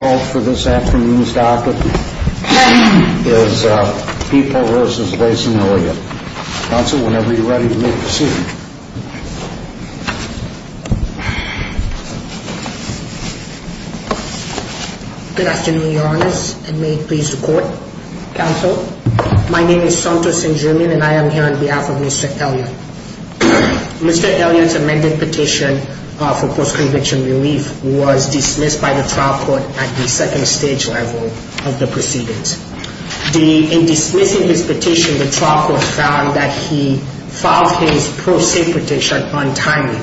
Mr. Elliott's amended petition for post-conviction relief was dismissed by the trial court at the second stage level of the proceedings. In dismissing his petition, the trial court found that he filed his pro se petition untimely.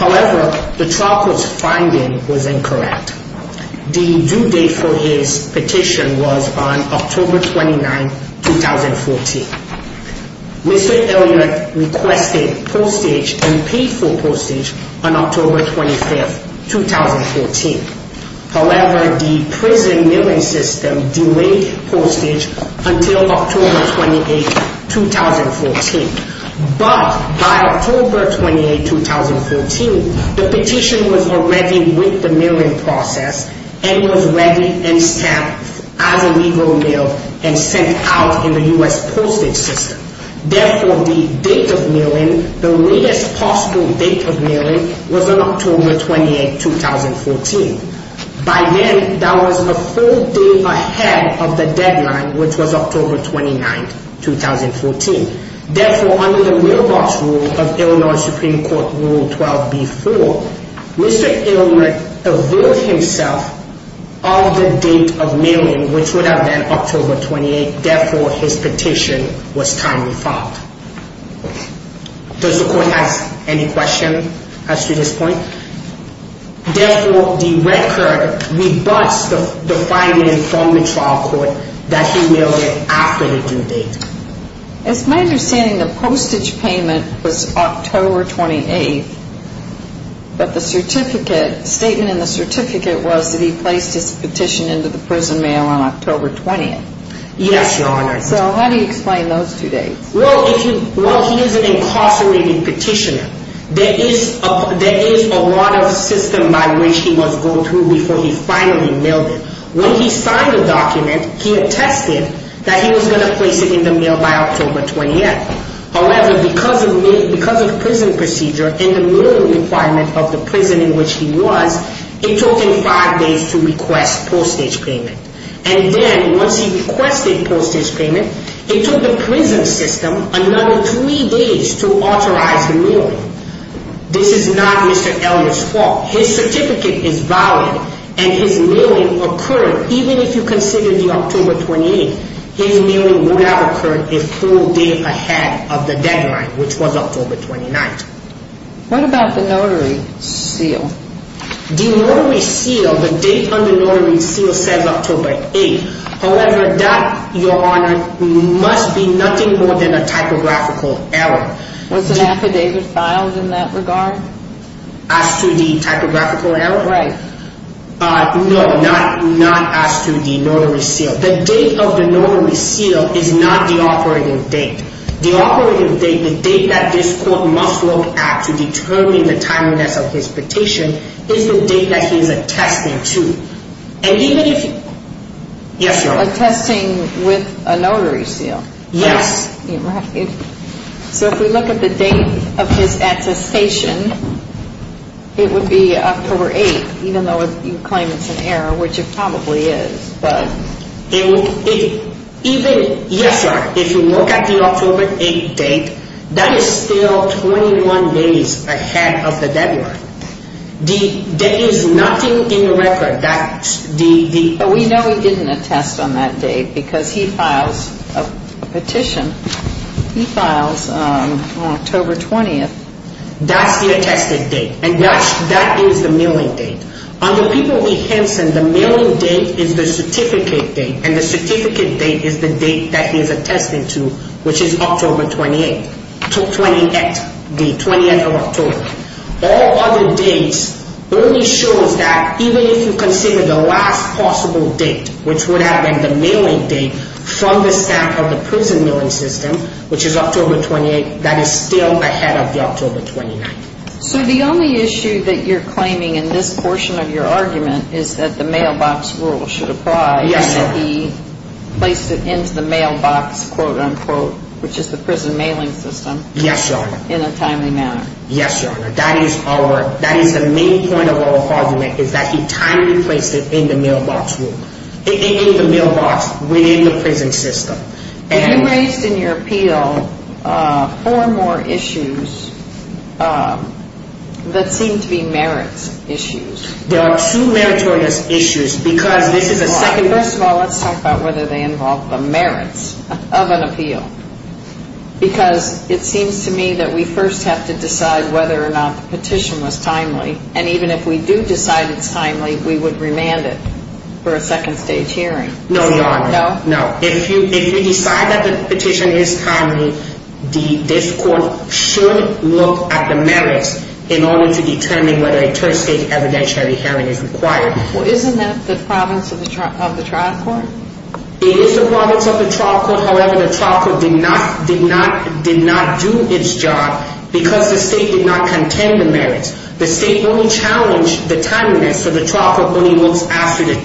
However, the trial court's finding was incorrect. The due date for his petition was on October 29, 2014. Mr. Elliott requested postage and However, the prison mail-in system delayed postage until October 28, 2014. But, by October 28, 2014, the petition was already with the mail-in process and was ready and stamped as a legal mail and sent out in the U.S. postage system. Therefore, the date of mail-in, the October 28, 2014. By then, that was a full day ahead of the deadline, which was October 29, 2014. Therefore, under the mailbox rule of Illinois Supreme Court Rule 12b-4, Mr. Elliott revealed himself of the date of mail-in, which would have been October 28. Therefore, his petition was timely filed. Does the court have any questions as to this point? Therefore, the record rebuts the finding from the trial court that he mailed it after the due date. It's my understanding the postage payment was October 28, but the certificate, the statement in the certificate was that he placed his petition into the prison mail on October 20. Yes, Your Honor. So, how do you explain those two dates? Well, he is an incarcerated petitioner. There is a lot of system by which he must go through before he finally mailed it. When he signed the document, he attested that he was going to place it in the mail by October 28. However, because of prison procedure and the minimum requirement of the prison in which he was, it took him five days to request postage payment. And then, once he requested postage payment, it took the prison system another three days to authorize the mail-in. This is not Mr. Elliott's fault. His certificate is valid and his mail-in occurred. Even if you consider the October 28, his mail-in would have occurred a full day ahead of the deadline, which was October 29. What about the notary seal? The notary seal, the date on the notary seal says October 8. However, that, Your Honor, must be nothing more than a typographical error. Was an affidavit filed in that regard? As to the typographical error? Right. No, not as to the notary seal. The date of the notary seal is not the operating date. The operating date, the date that this court must look at to determine the timeliness of his petition is the date that he is attesting to. And even if you Yes, Your Honor. Attesting with a notary seal? Yes. So if we look at the date of his attestation, it would be October 8, even though you claim it's an error, which it probably is, but even, yes, Your Honor, if you look at the October 8 date, that is still 21 days ahead of the deadline. There is nothing in the record that the But we know he didn't attest on that date because he files a petition. He files on October 20. That's the attested date. And that is the mail-in date. On the People v. Henson, the mail-in date is the certificate date, and the certificate date is the date that he is attesting to, which is October 28, the 20th of October. All other dates only show that even if you consider the last possible date, which would have been the mail-in date from the stamp of the prison mail-in system, which is October 28, that is still ahead of the October 29. So the only issue that you're claiming in this portion of your argument is that the mailbox rule should apply. Yes, Your Honor. And that he placed it into the mailbox, quote-unquote, which is the prison mailing system. Yes, Your Honor. In a timely manner. Yes, Your Honor. That is our, that is the main point of our argument, is that he timely placed it in the mailbox rule, in the mailbox within the prison system. You raised in your appeal four more issues that seem to be merits issues. There are two meritorious issues, because this is a second. First of all, let's talk about whether they involve the merits of an appeal. Because it seems to me that we first have to decide whether or not the petition was timely, and even if we do decide it's timely, we would remand it for a second stage hearing. No, Your Honor. No? No. If you decide that the petition is timely, this court should look at the merits in order to determine whether a third stage evidentiary hearing is required. Well, isn't that the province of the trial court? It is the province of the trial court. However, the trial court did not do its job because the state did not contend the merits. The state only challenged the timeliness, so the trial court only looks after the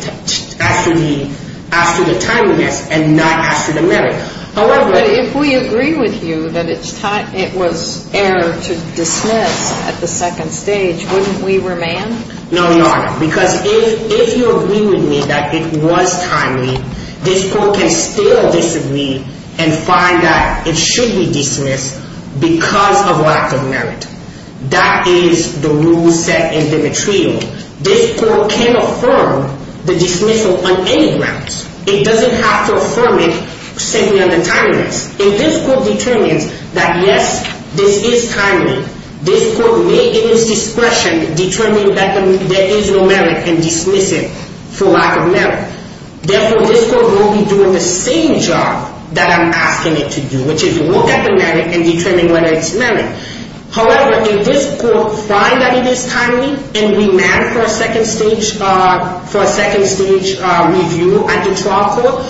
timeliness and not after the merits. However, if we agree with you that it was error to dismiss at the second stage, wouldn't we remand? No, Your Honor. Because if you agree with me that it was timely, this court can still disagree and find that it should be dismissed because of lack of merit. That is the rule set in Demetrio. This court can affirm the dismissal on any grounds. It doesn't have to affirm it simply on the timeliness. If this court determines that, yes, this is timely, this court may, in its discretion, determine that there is no merit and dismiss it for lack of merit. Therefore, this court will be doing the same job that I'm asking it to do, which is look at the merit and determine whether it's merit. However, if this court finds that it is timely and remands for a second stage review at the trial court,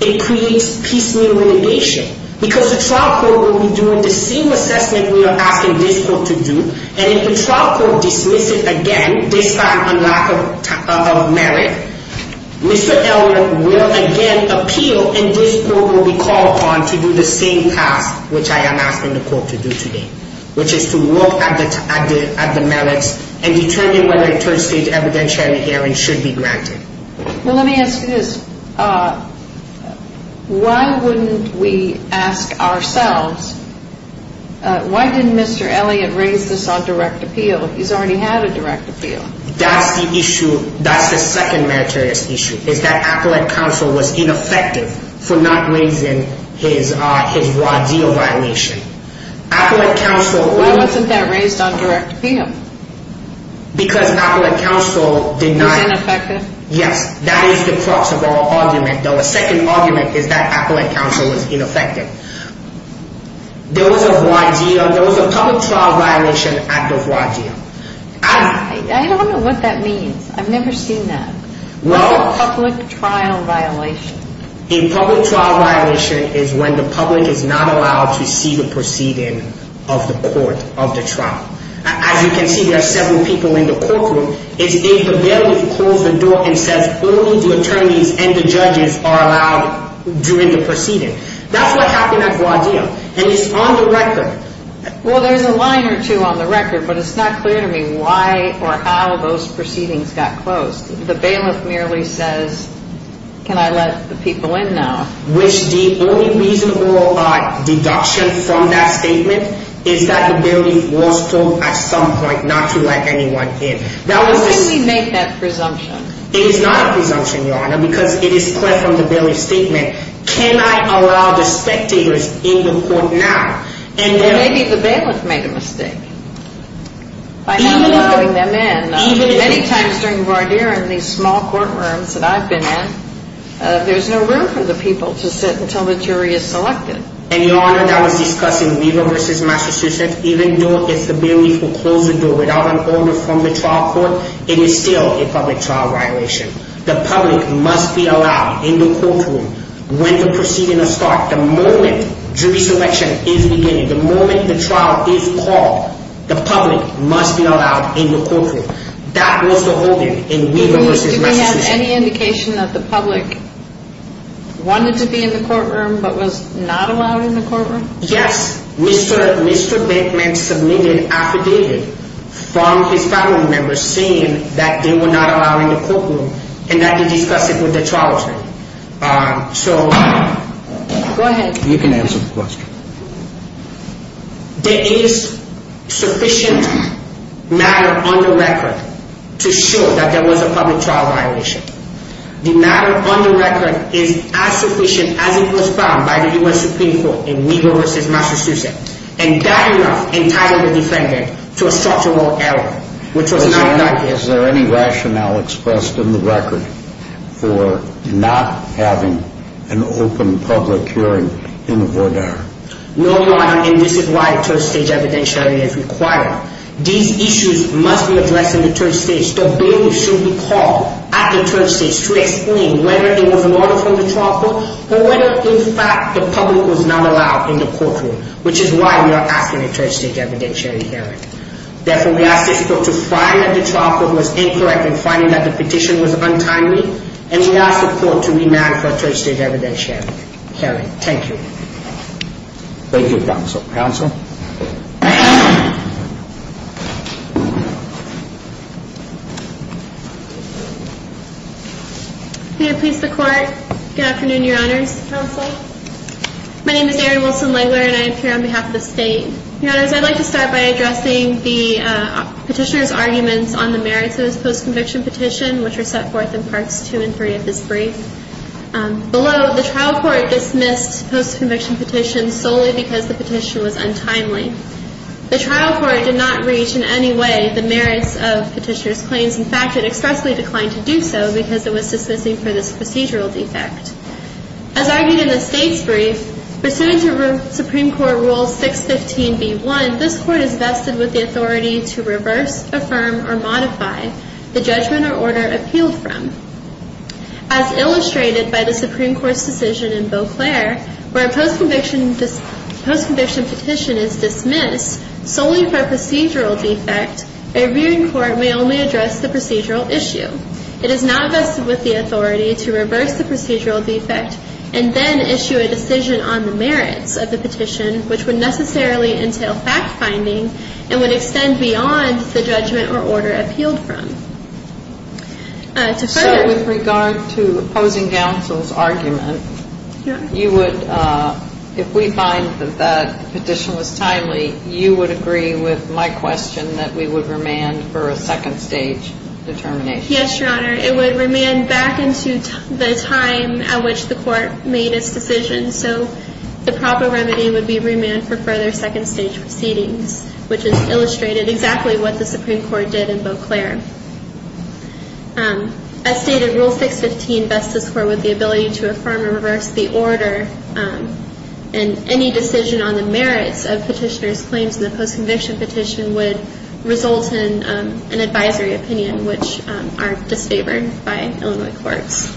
it creates piecemeal litigation because the trial court will be doing the same assessment we are asking this court to do. And if the trial court dismisses again despite a lack of merit, Mr. Elliott will again appeal and this court will be called upon to do the same task which I am asking the court to do today, which is to look at the merits and determine whether a third stage evidentiary hearing should be granted. Well, let me ask you this. Why wouldn't we ask ourselves, why didn't Mr. Elliott raise this on direct appeal? He's already had a direct appeal. That's the issue, that's the second meritorious issue, is that appellate counsel was ineffective for not raising his raw deal violation. Appellate counsel... Why wasn't that raised on direct appeal? Because appellate counsel did not... It was ineffective? Yes, that is the crux of our argument. The second argument is that appellate counsel was ineffective. There was a raw deal, there was a public trial violation at the raw deal. I don't know what that means. I've never seen that. What's a public trial violation? A public trial violation is when the public is not allowed to see the proceeding of the court of the trial. As you can see, there are several people in the courtroom. If the bailiff closes the door and says only the attorneys and the judges are allowed during the proceeding, that's what happened at the raw deal, and it's on the record. Well, there's a line or two on the record, but it's not clear to me why or how those proceedings got closed. The bailiff merely says, can I let the people in now? Which the only reasonable deduction from that statement is that the bailiff was told at some point not to let anyone in. Why didn't he make that presumption? It is not a presumption, Your Honor, because it is clear from the bailiff's statement. Can I allow the spectators in the court now? Well, maybe the bailiff made a mistake by not letting them in. Many times during the raw deal in these small courtrooms that I've been in, there's no room for the people to sit until the jury is selected. And, Your Honor, that was discussed in Leland v. Massachusetts. Even though if the bailiff will close the door without an order from the trial court, it is still a public trial violation. The public must be allowed in the courtroom when the proceedings start. The moment jury selection is beginning, the moment the trial is called, the public must be allowed in the courtroom. That was the holding in Weaver v. Massachusetts. Do we have any indication that the public wanted to be in the courtroom but was not allowed in the courtroom? Yes. Mr. Bateman submitted affidavit from his family members saying that they were not allowed in the courtroom and that he discussed it with the trial attorney. So... Go ahead. You can answer the question. There is sufficient matter on the record to show that there was a public trial violation. The matter on the record is as sufficient as it was found by the U.S. Supreme Court in Weaver v. Massachusetts and that enough entitled the defendant to a structural error, which was not done here. Is there any rationale expressed in the record for not having an open public hearing in the voir dire? No, Your Honor, and this is why a third stage evidentiary is required. These issues must be addressed in the third stage. The bailiff should be called at the third stage to explain whether it was an order from the trial court or whether in fact the public was not allowed in the courtroom, which is why we are asking a third stage evidentiary hearing. Therefore, we ask the court to find that the trial court was incorrect in finding that the petition was untimely and we ask the court to remand for a third stage evidentiary hearing. Thank you. Thank you, counsel. May I please the court? Good afternoon, Your Honors. My name is Erin Wilson-Langler and I appear on behalf of the state. Your Honors, I'd like to start by addressing the petitioner's arguments on the merits of his post-conviction petition, which are set forth in Parts 2 and 3 of this brief. Below, the trial court dismissed post-conviction petitions solely because the petitioner was wrong. The trial court did not reach in any way the merits of petitioner's claims. In fact, it expressly declined to do so because it was dismissing for this procedural defect. As argued in the state's brief, pursuant to Supreme Court Rule 615b1, this court is vested with the authority to reverse, affirm, or modify the judgment or order appealed from. As illustrated by the Supreme Court's decision in Beauclair, where a post-conviction petition is dismissed solely for a procedural defect, a reviewing court may only address the procedural issue. It is not vested with the authority to reverse the procedural defect and then issue a decision on the merits of the petition, which would necessarily entail fact-finding and would extend beyond the judgment or order appealed from. So with regard to opposing counsel's argument, if we find that that petition was timely, you would agree with my question that we would remand for a second-stage determination? Yes, Your Honor. It would remand back into the time at which the court made its decision. So the proper remedy would be remand for further second-stage proceedings, which is illustrated exactly what the Supreme Court did in Beauclair. As stated, Rule 615 bests this court with the ability to affirm and reverse the order, and any decision on the merits of petitioner's claims in the post-conviction petition would result in an advisory opinion, which are disfavored by Illinois courts.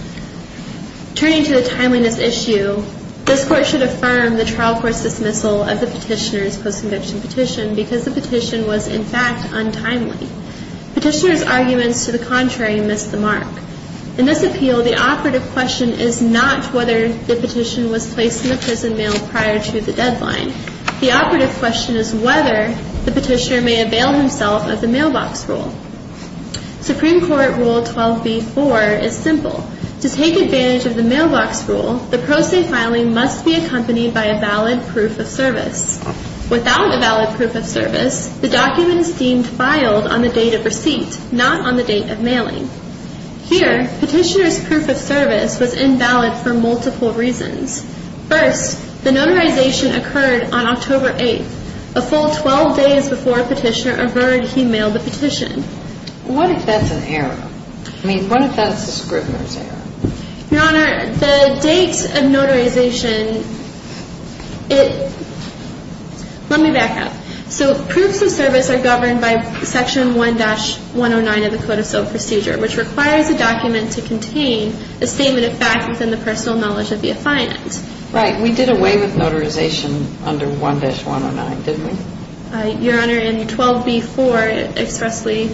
Turning to the timeliness issue, this court should affirm the trial court's dismissal of the petitioner's post-conviction petition because the petition was, in fact, untimely. Petitioner's arguments to the contrary missed the mark. In this appeal, the operative question is not whether the petition was placed in the prison mail prior to the deadline. The operative question is whether the petitioner may avail himself of the mailbox rule. Supreme Court Rule 12b-4 is simple. To take advantage of the mailbox rule, the pro se filing must be accompanied by a valid proof of service. Without a valid proof of service, the document is deemed filed on the date of receipt, not on the date of mailing. Here, petitioner's proof of service was invalid for multiple reasons. First, the notarization occurred on October 8th, a full 12 days before Petitioner averred he mailed the petition. What if that's an error? I mean, what if that's the scrivener's error? Your Honor, the date of notarization, it – let me back up. So proofs of service are governed by Section 1-109 of the Code of Civil Procedure, which requires a document to contain a statement of fact within the personal knowledge of the affiant. Right. We did away with notarization under 1-109, didn't we? Your Honor, in 12b-4, it expressly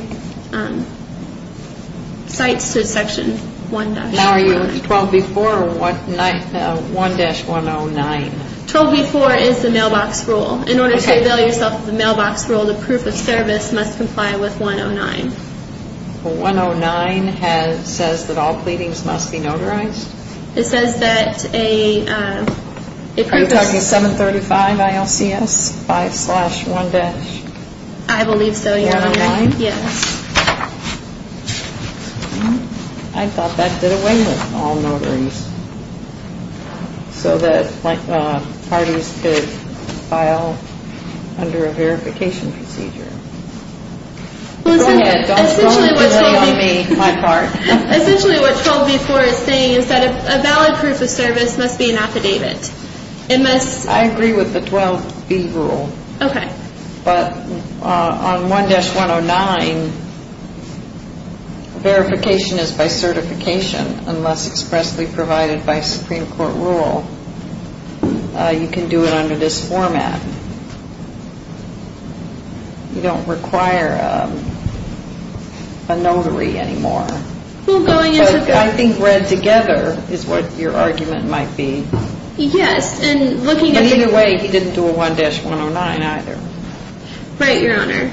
cites Section 1-109. Now are you in 12b-4 or 1-109? 12b-4 is the mailbox rule. In order to avail yourself of the mailbox rule, the proof of service must comply with 109. 109 has – says that all pleadings must be notarized? It says that a – Are you talking 735 ILCS 5-1-109? I believe so, Your Honor. 109? Yes. I thought that did away with all notaries so that parties could file under a verification procedure. Go ahead. Don't throw the blame on me, my part. Essentially what 12b-4 is saying is that a valid proof of service must be an affidavit. It must – I agree with the 12b rule. Okay. But on 1-109, verification is by certification unless expressly provided by Supreme Court rule. You can do it under this format. You don't require a notary anymore. Well, going into the – I think read together is what your argument might be. Yes. And looking at – But either way, he didn't do a 1-109 either. Right, Your Honor.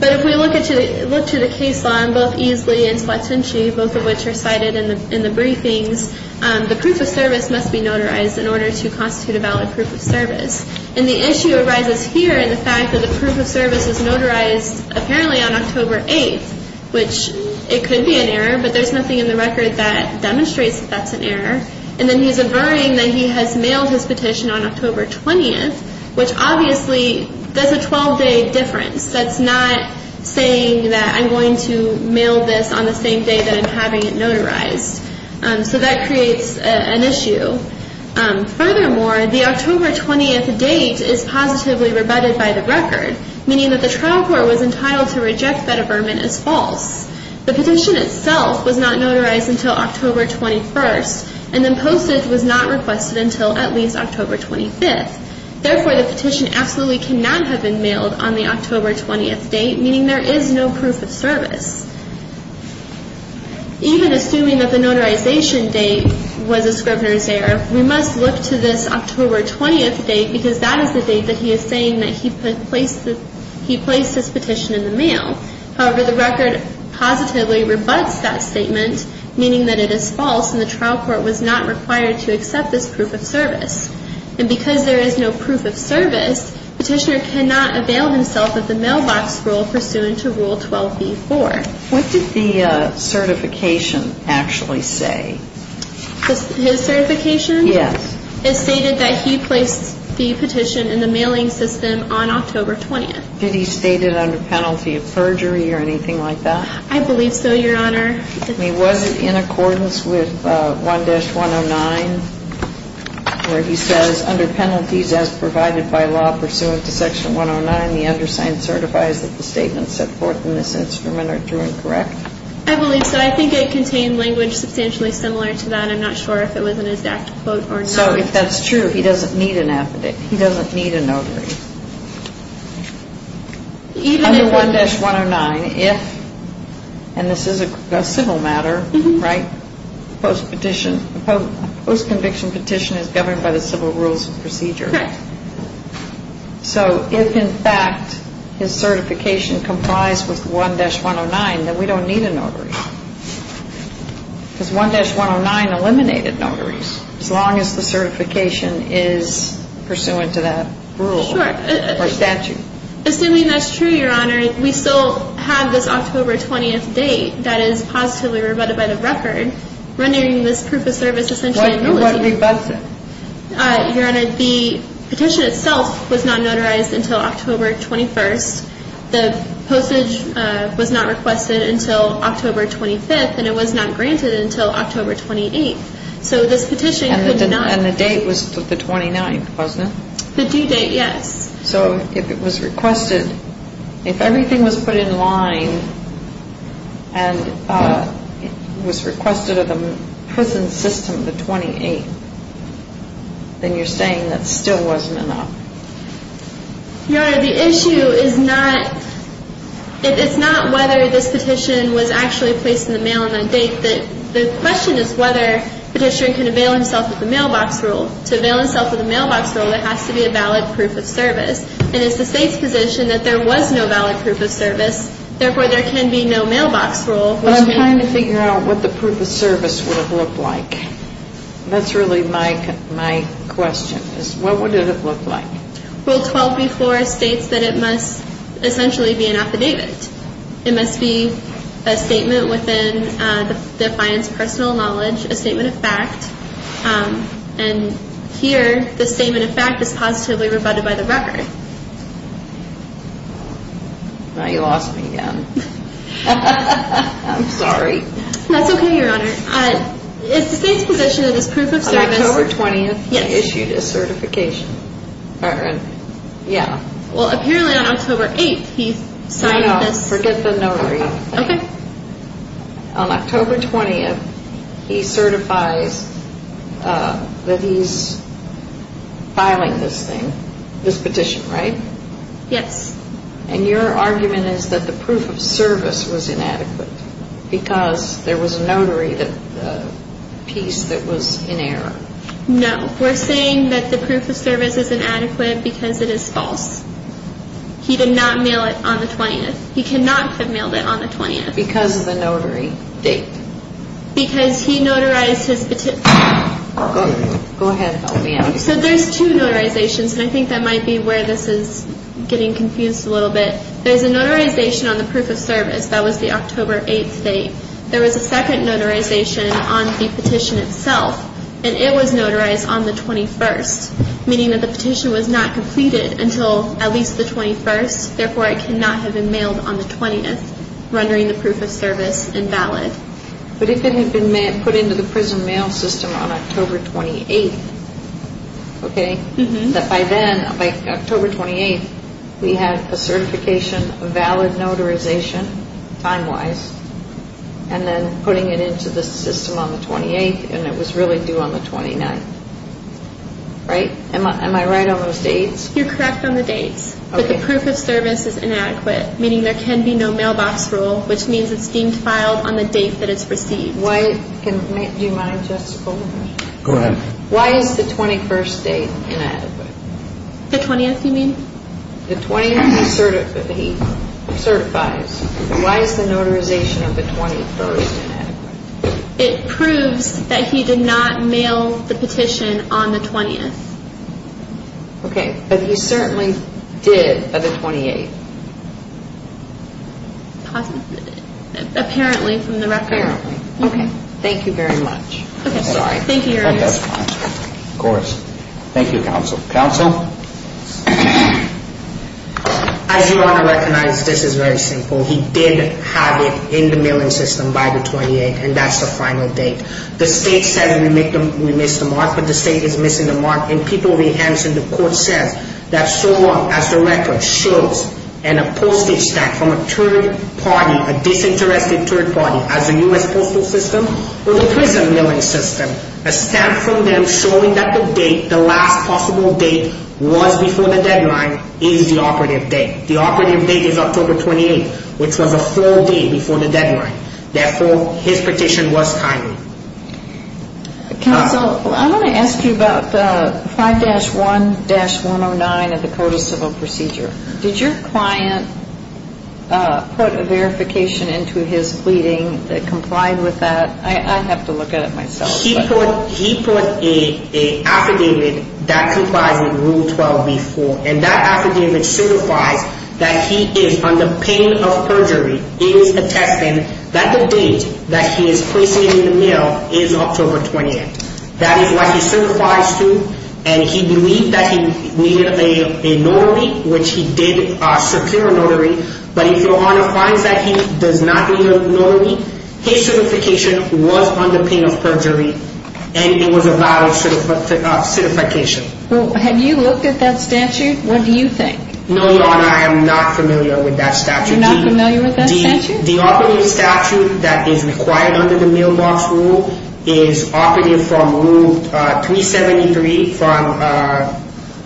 But if we look at the – look to the case law, both easily and sequentially, both of which are cited in the briefings, the proof of service must be notarized in order to constitute a valid proof of service. And the issue arises here in the fact that the proof of service is notarized apparently on October 8th, which it could be an error, but there's nothing in the record that demonstrates that that's an error. And then he's averting that he has mailed his petition on October 20th, which obviously there's a 12-day difference. That's not saying that I'm going to mail this on the same day that I'm having it notarized. So that creates an issue. Furthermore, the October 20th date is positively rebutted by the record, meaning that the trial court was entitled to reject that averment as false. The petition itself was not notarized until October 21st, and then postage was not requested until at least October 25th. Therefore, the petition absolutely cannot have been mailed on the October 20th date, meaning there is no proof of service. Even assuming that the notarization date was a scrivener's error, we must look to this October 20th date because that is the date that he is saying that he placed his petition in the mail. However, the record positively rebuts that statement, meaning that it is false and the trial court was not required to accept this proof of service. And because there is no proof of service, the petitioner cannot avail himself of the mailbox rule pursuant to Rule 12b-4. What did the certification actually say? His certification? Yes. It stated that he placed the petition in the mailing system on October 20th. Did he state it under penalty of perjury or anything like that? I believe so, Your Honor. I mean, was it in accordance with 1-109 where he says, under penalties as provided by law pursuant to Section 109, the undersigned certifies that the statements set forth in this instrument are true and correct? I believe so. I think it contained language substantially similar to that. I'm not sure if it was an exact quote or not. So if that's true, he doesn't need a notary. Even in 1-109, if, and this is a civil matter, right, a post-conviction petition is governed by the civil rules of procedure. So if, in fact, his certification complies with 1-109, then we don't need a notary. Because 1-109 eliminated notaries as long as the certification is pursuant to that rule. Sure. Or statute. Assuming that's true, Your Honor, we still have this October 20th date that is positively rebutted by the record, rendering this proof of service essentially nullified. What rebutts it? Your Honor, the petition itself was not notarized until October 21st. The postage was not requested until October 25th, and it was not granted until October 28th. So this petition could not be. And the date was the 29th, wasn't it? The due date, yes. So if it was requested, if everything was put in line, and it was requested of the prison system the 28th, then you're saying that still wasn't enough? Your Honor, the issue is not, it's not whether this petition was actually placed in the mail on that date. The question is whether the petitioner can avail himself of the mailbox rule. To avail himself of the mailbox rule, there has to be a valid proof of service. And it's the State's position that there was no valid proof of service, therefore there can be no mailbox rule. But I'm trying to figure out what the proof of service would have looked like. That's really my question, is what would it have looked like? Rule 12b-4 states that it must essentially be an affidavit. It must be a statement within the defiant's personal knowledge, a statement of fact. And here, the statement of fact is positively rebutted by the record. Now you lost me again. I'm sorry. That's okay, Your Honor. It's the State's position that this proof of service... On October 20th, he issued a certification. Yeah. Well, apparently on October 8th, he signed this... No, no, forget the notary. Okay. On October 20th, he certifies that he's filing this thing, this petition, right? Yes. And your argument is that the proof of service was inadequate because there was a notary piece that was in error. No. We're saying that the proof of service is inadequate because it is false. He did not mail it on the 20th. He cannot have mailed it on the 20th. Because of the notary date. Because he notarized his petition. Go ahead. So there's two notarizations, and I think that might be where this is getting confused a little bit. There's a notarization on the proof of service. That was the October 8th date. There was a second notarization on the petition itself, and it was notarized on the 21st, meaning that the petition was not completed until at least the 21st. Therefore, it cannot have been mailed on the 20th, rendering the proof of service invalid. But if it had been put into the prison mail system on October 28th, okay, that by then, by October 28th, we had a certification, a valid notarization, time-wise, and then putting it into the system on the 28th, and it was really due on the 29th, right? Am I right on those dates? You're correct on the dates. Okay. But the proof of service is inadequate, meaning there can be no mailbox rule, which means it's deemed filed on the date that it's received. Do you mind, Justice Goldberg? Go ahead. Why is the 21st date inadequate? The 20th, you mean? The 20th, he certifies. Why is the notarization of the 21st inadequate? It proves that he did not mail the petition on the 20th. Okay, but he certainly did by the 28th. Possibly. Apparently, from the record. Apparently. Okay. Thank you very much. I'm sorry. Thank you, Your Honor. Of course. Thank you, counsel. Counsel? As you all recognize, this is very simple. He did have it in the mailing system by the 28th, and that's the final date. The state says we missed the mark, but the state is missing the mark, and people rehance, and the court says that so long as the record shows in a postage stamp from a third party, a disinterested third party, as the U.S. postal system or the prison mailing system, a stamp from them showing that the date, the last possible date, was before the deadline is the operative date. The operative date is October 28th, which was a full day before the deadline. Therefore, his petition was timely. Counsel, I want to ask you about 5-1-109 of the Code of Civil Procedure. Did your client put a verification into his pleading that complied with that? I have to look at it myself. He put an affidavit that complies with Rule 12b-4, and that affidavit certifies that he is under pain of perjury. It is attesting that the date that he is placing it in the mail is October 28th. That is what he certifies to, and he believed that he needed a notary, which he did secure a notary, but if your Honor finds that he does not need a notary, his certification was under pain of perjury, and it was a valid certification. Have you looked at that statute? What do you think? No, Your Honor, I am not familiar with that statute. You're not familiar with that statute? The operative statute that is required under the mailbox rule is operative from Rule 373 from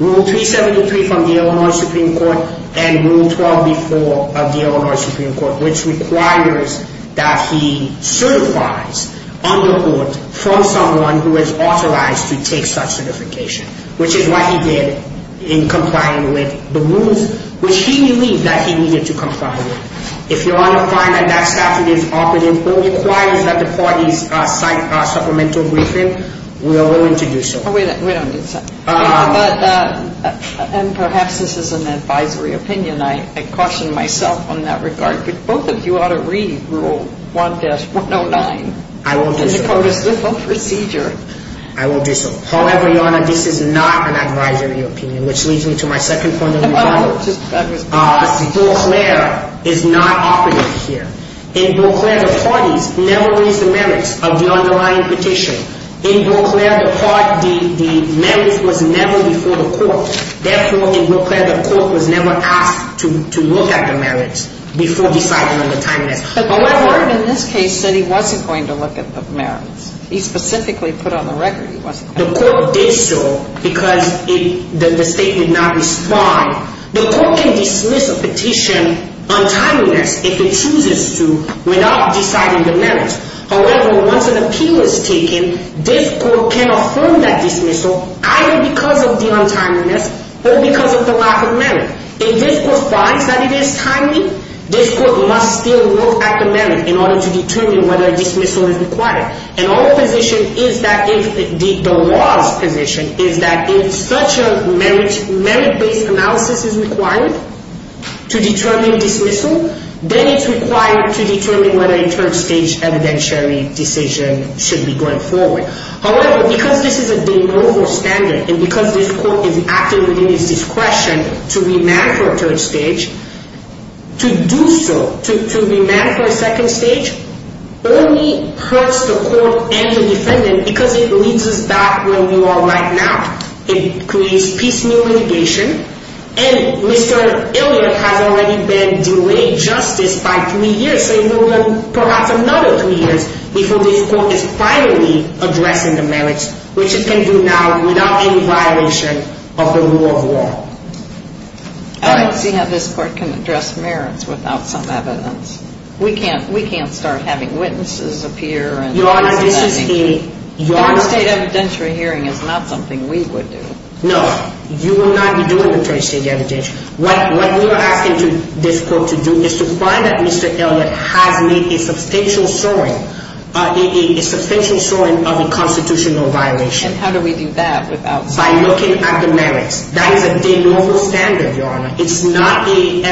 the Illinois Supreme Court and Rule 12b-4 of the Illinois Supreme Court, which requires that he certifies under court from someone who is authorized to take such certification, which is what he did in complying with the rules, which he believed that he needed to comply with. If your Honor finds that that statute is operative, but requires that the parties cite a supplemental briefing, we are willing to do so. We don't need that. And perhaps this is an advisory opinion. And I caution myself on that regard. But both of you ought to read Rule 1-109. I will do so. In the court of slip of procedure. I will do so. However, Your Honor, this is not an advisory opinion, which leads me to my second point of rebuttal. Your Honor, just to back us up. Deauclair is not operative here. In Deauclair, the parties never raised the merits of the underlying petition. In Deauclair, the merits was never before the court. Therefore, in Deauclair, the court was never asked to look at the merits before deciding on the timeliness. But the court in this case said he wasn't going to look at the merits. He specifically put on the record he wasn't going to. The court did so because the state did not respond. The court can dismiss a petition on timeliness if it chooses to without deciding the merits. However, once an appeal is taken, this court can affirm that dismissal either because of the untimeliness or because of the lack of merit. If this court finds that it is timely, this court must still look at the merit in order to determine whether a dismissal is required. And our position is that, the law's position, is that if such a merit-based analysis is required to determine dismissal, then it's required to determine whether a 12-stage evidentiary decision should be going forward. However, because this is a de novo standard, and because this court is acting within its discretion to remand for a third stage, to do so, to remand for a second stage, only hurts the court and the defendant because it leads us back where we are right now. It creates piecemeal litigation, and Mr. Elliott has already been delayed justice by three years, so he will have perhaps another three years before this court is finally addressing the merits, which it can do now without any violation of the rule of law. I don't see how this court can address merits without some evidence. We can't start having witnesses appear and— Your Honor, this is a— Third-stage evidentiary hearing is not something we would do. No, you will not be doing the third-stage evidentiary. What we are asking this court to do is to find that Mr. Elliott has made a substantial showing of a constitutional violation. And how do we do that without— By looking at the merits. That is a de novo standard, Your Honor. It's not a—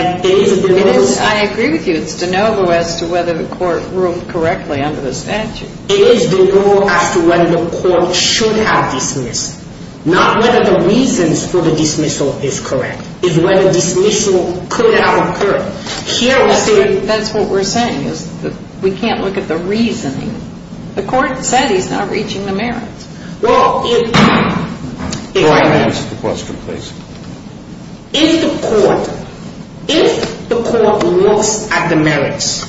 I agree with you. It's de novo as to whether the court ruled correctly under the statute. It is de novo as to whether the court should have dismissed. Not whether the reasons for the dismissal is correct. It's whether dismissal could have occurred. Here we see— That's what we're saying is that we can't look at the reasoning. The court said he's not reaching the merits. Well, if— Your Honor, can I ask a question, please? If the court—if the court looks at the merits,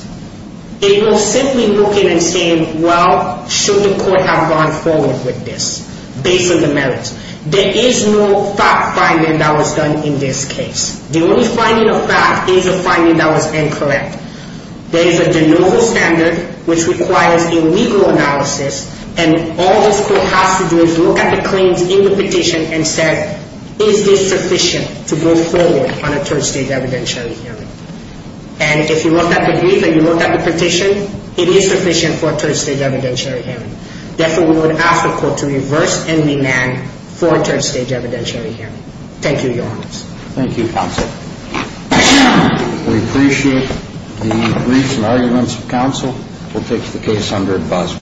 it will simply look at it and say, well, should the court have gone forward with this based on the merits? There is no fact-finding that was done in this case. The only finding of fact is a finding that was incorrect. There is a de novo standard which requires a legal analysis, and all this court has to do is look at the claims in the petition and say, is this sufficient to go forward on a third-stage evidentiary hearing? And if you look at the brief and you look at the petition, it is sufficient for a third-stage evidentiary hearing. Therefore, we would ask the court to reverse and remand for a third-stage evidentiary hearing. Thank you, Your Honor. Thank you, counsel. We appreciate the briefs and arguments of counsel. We'll take the case under advisory.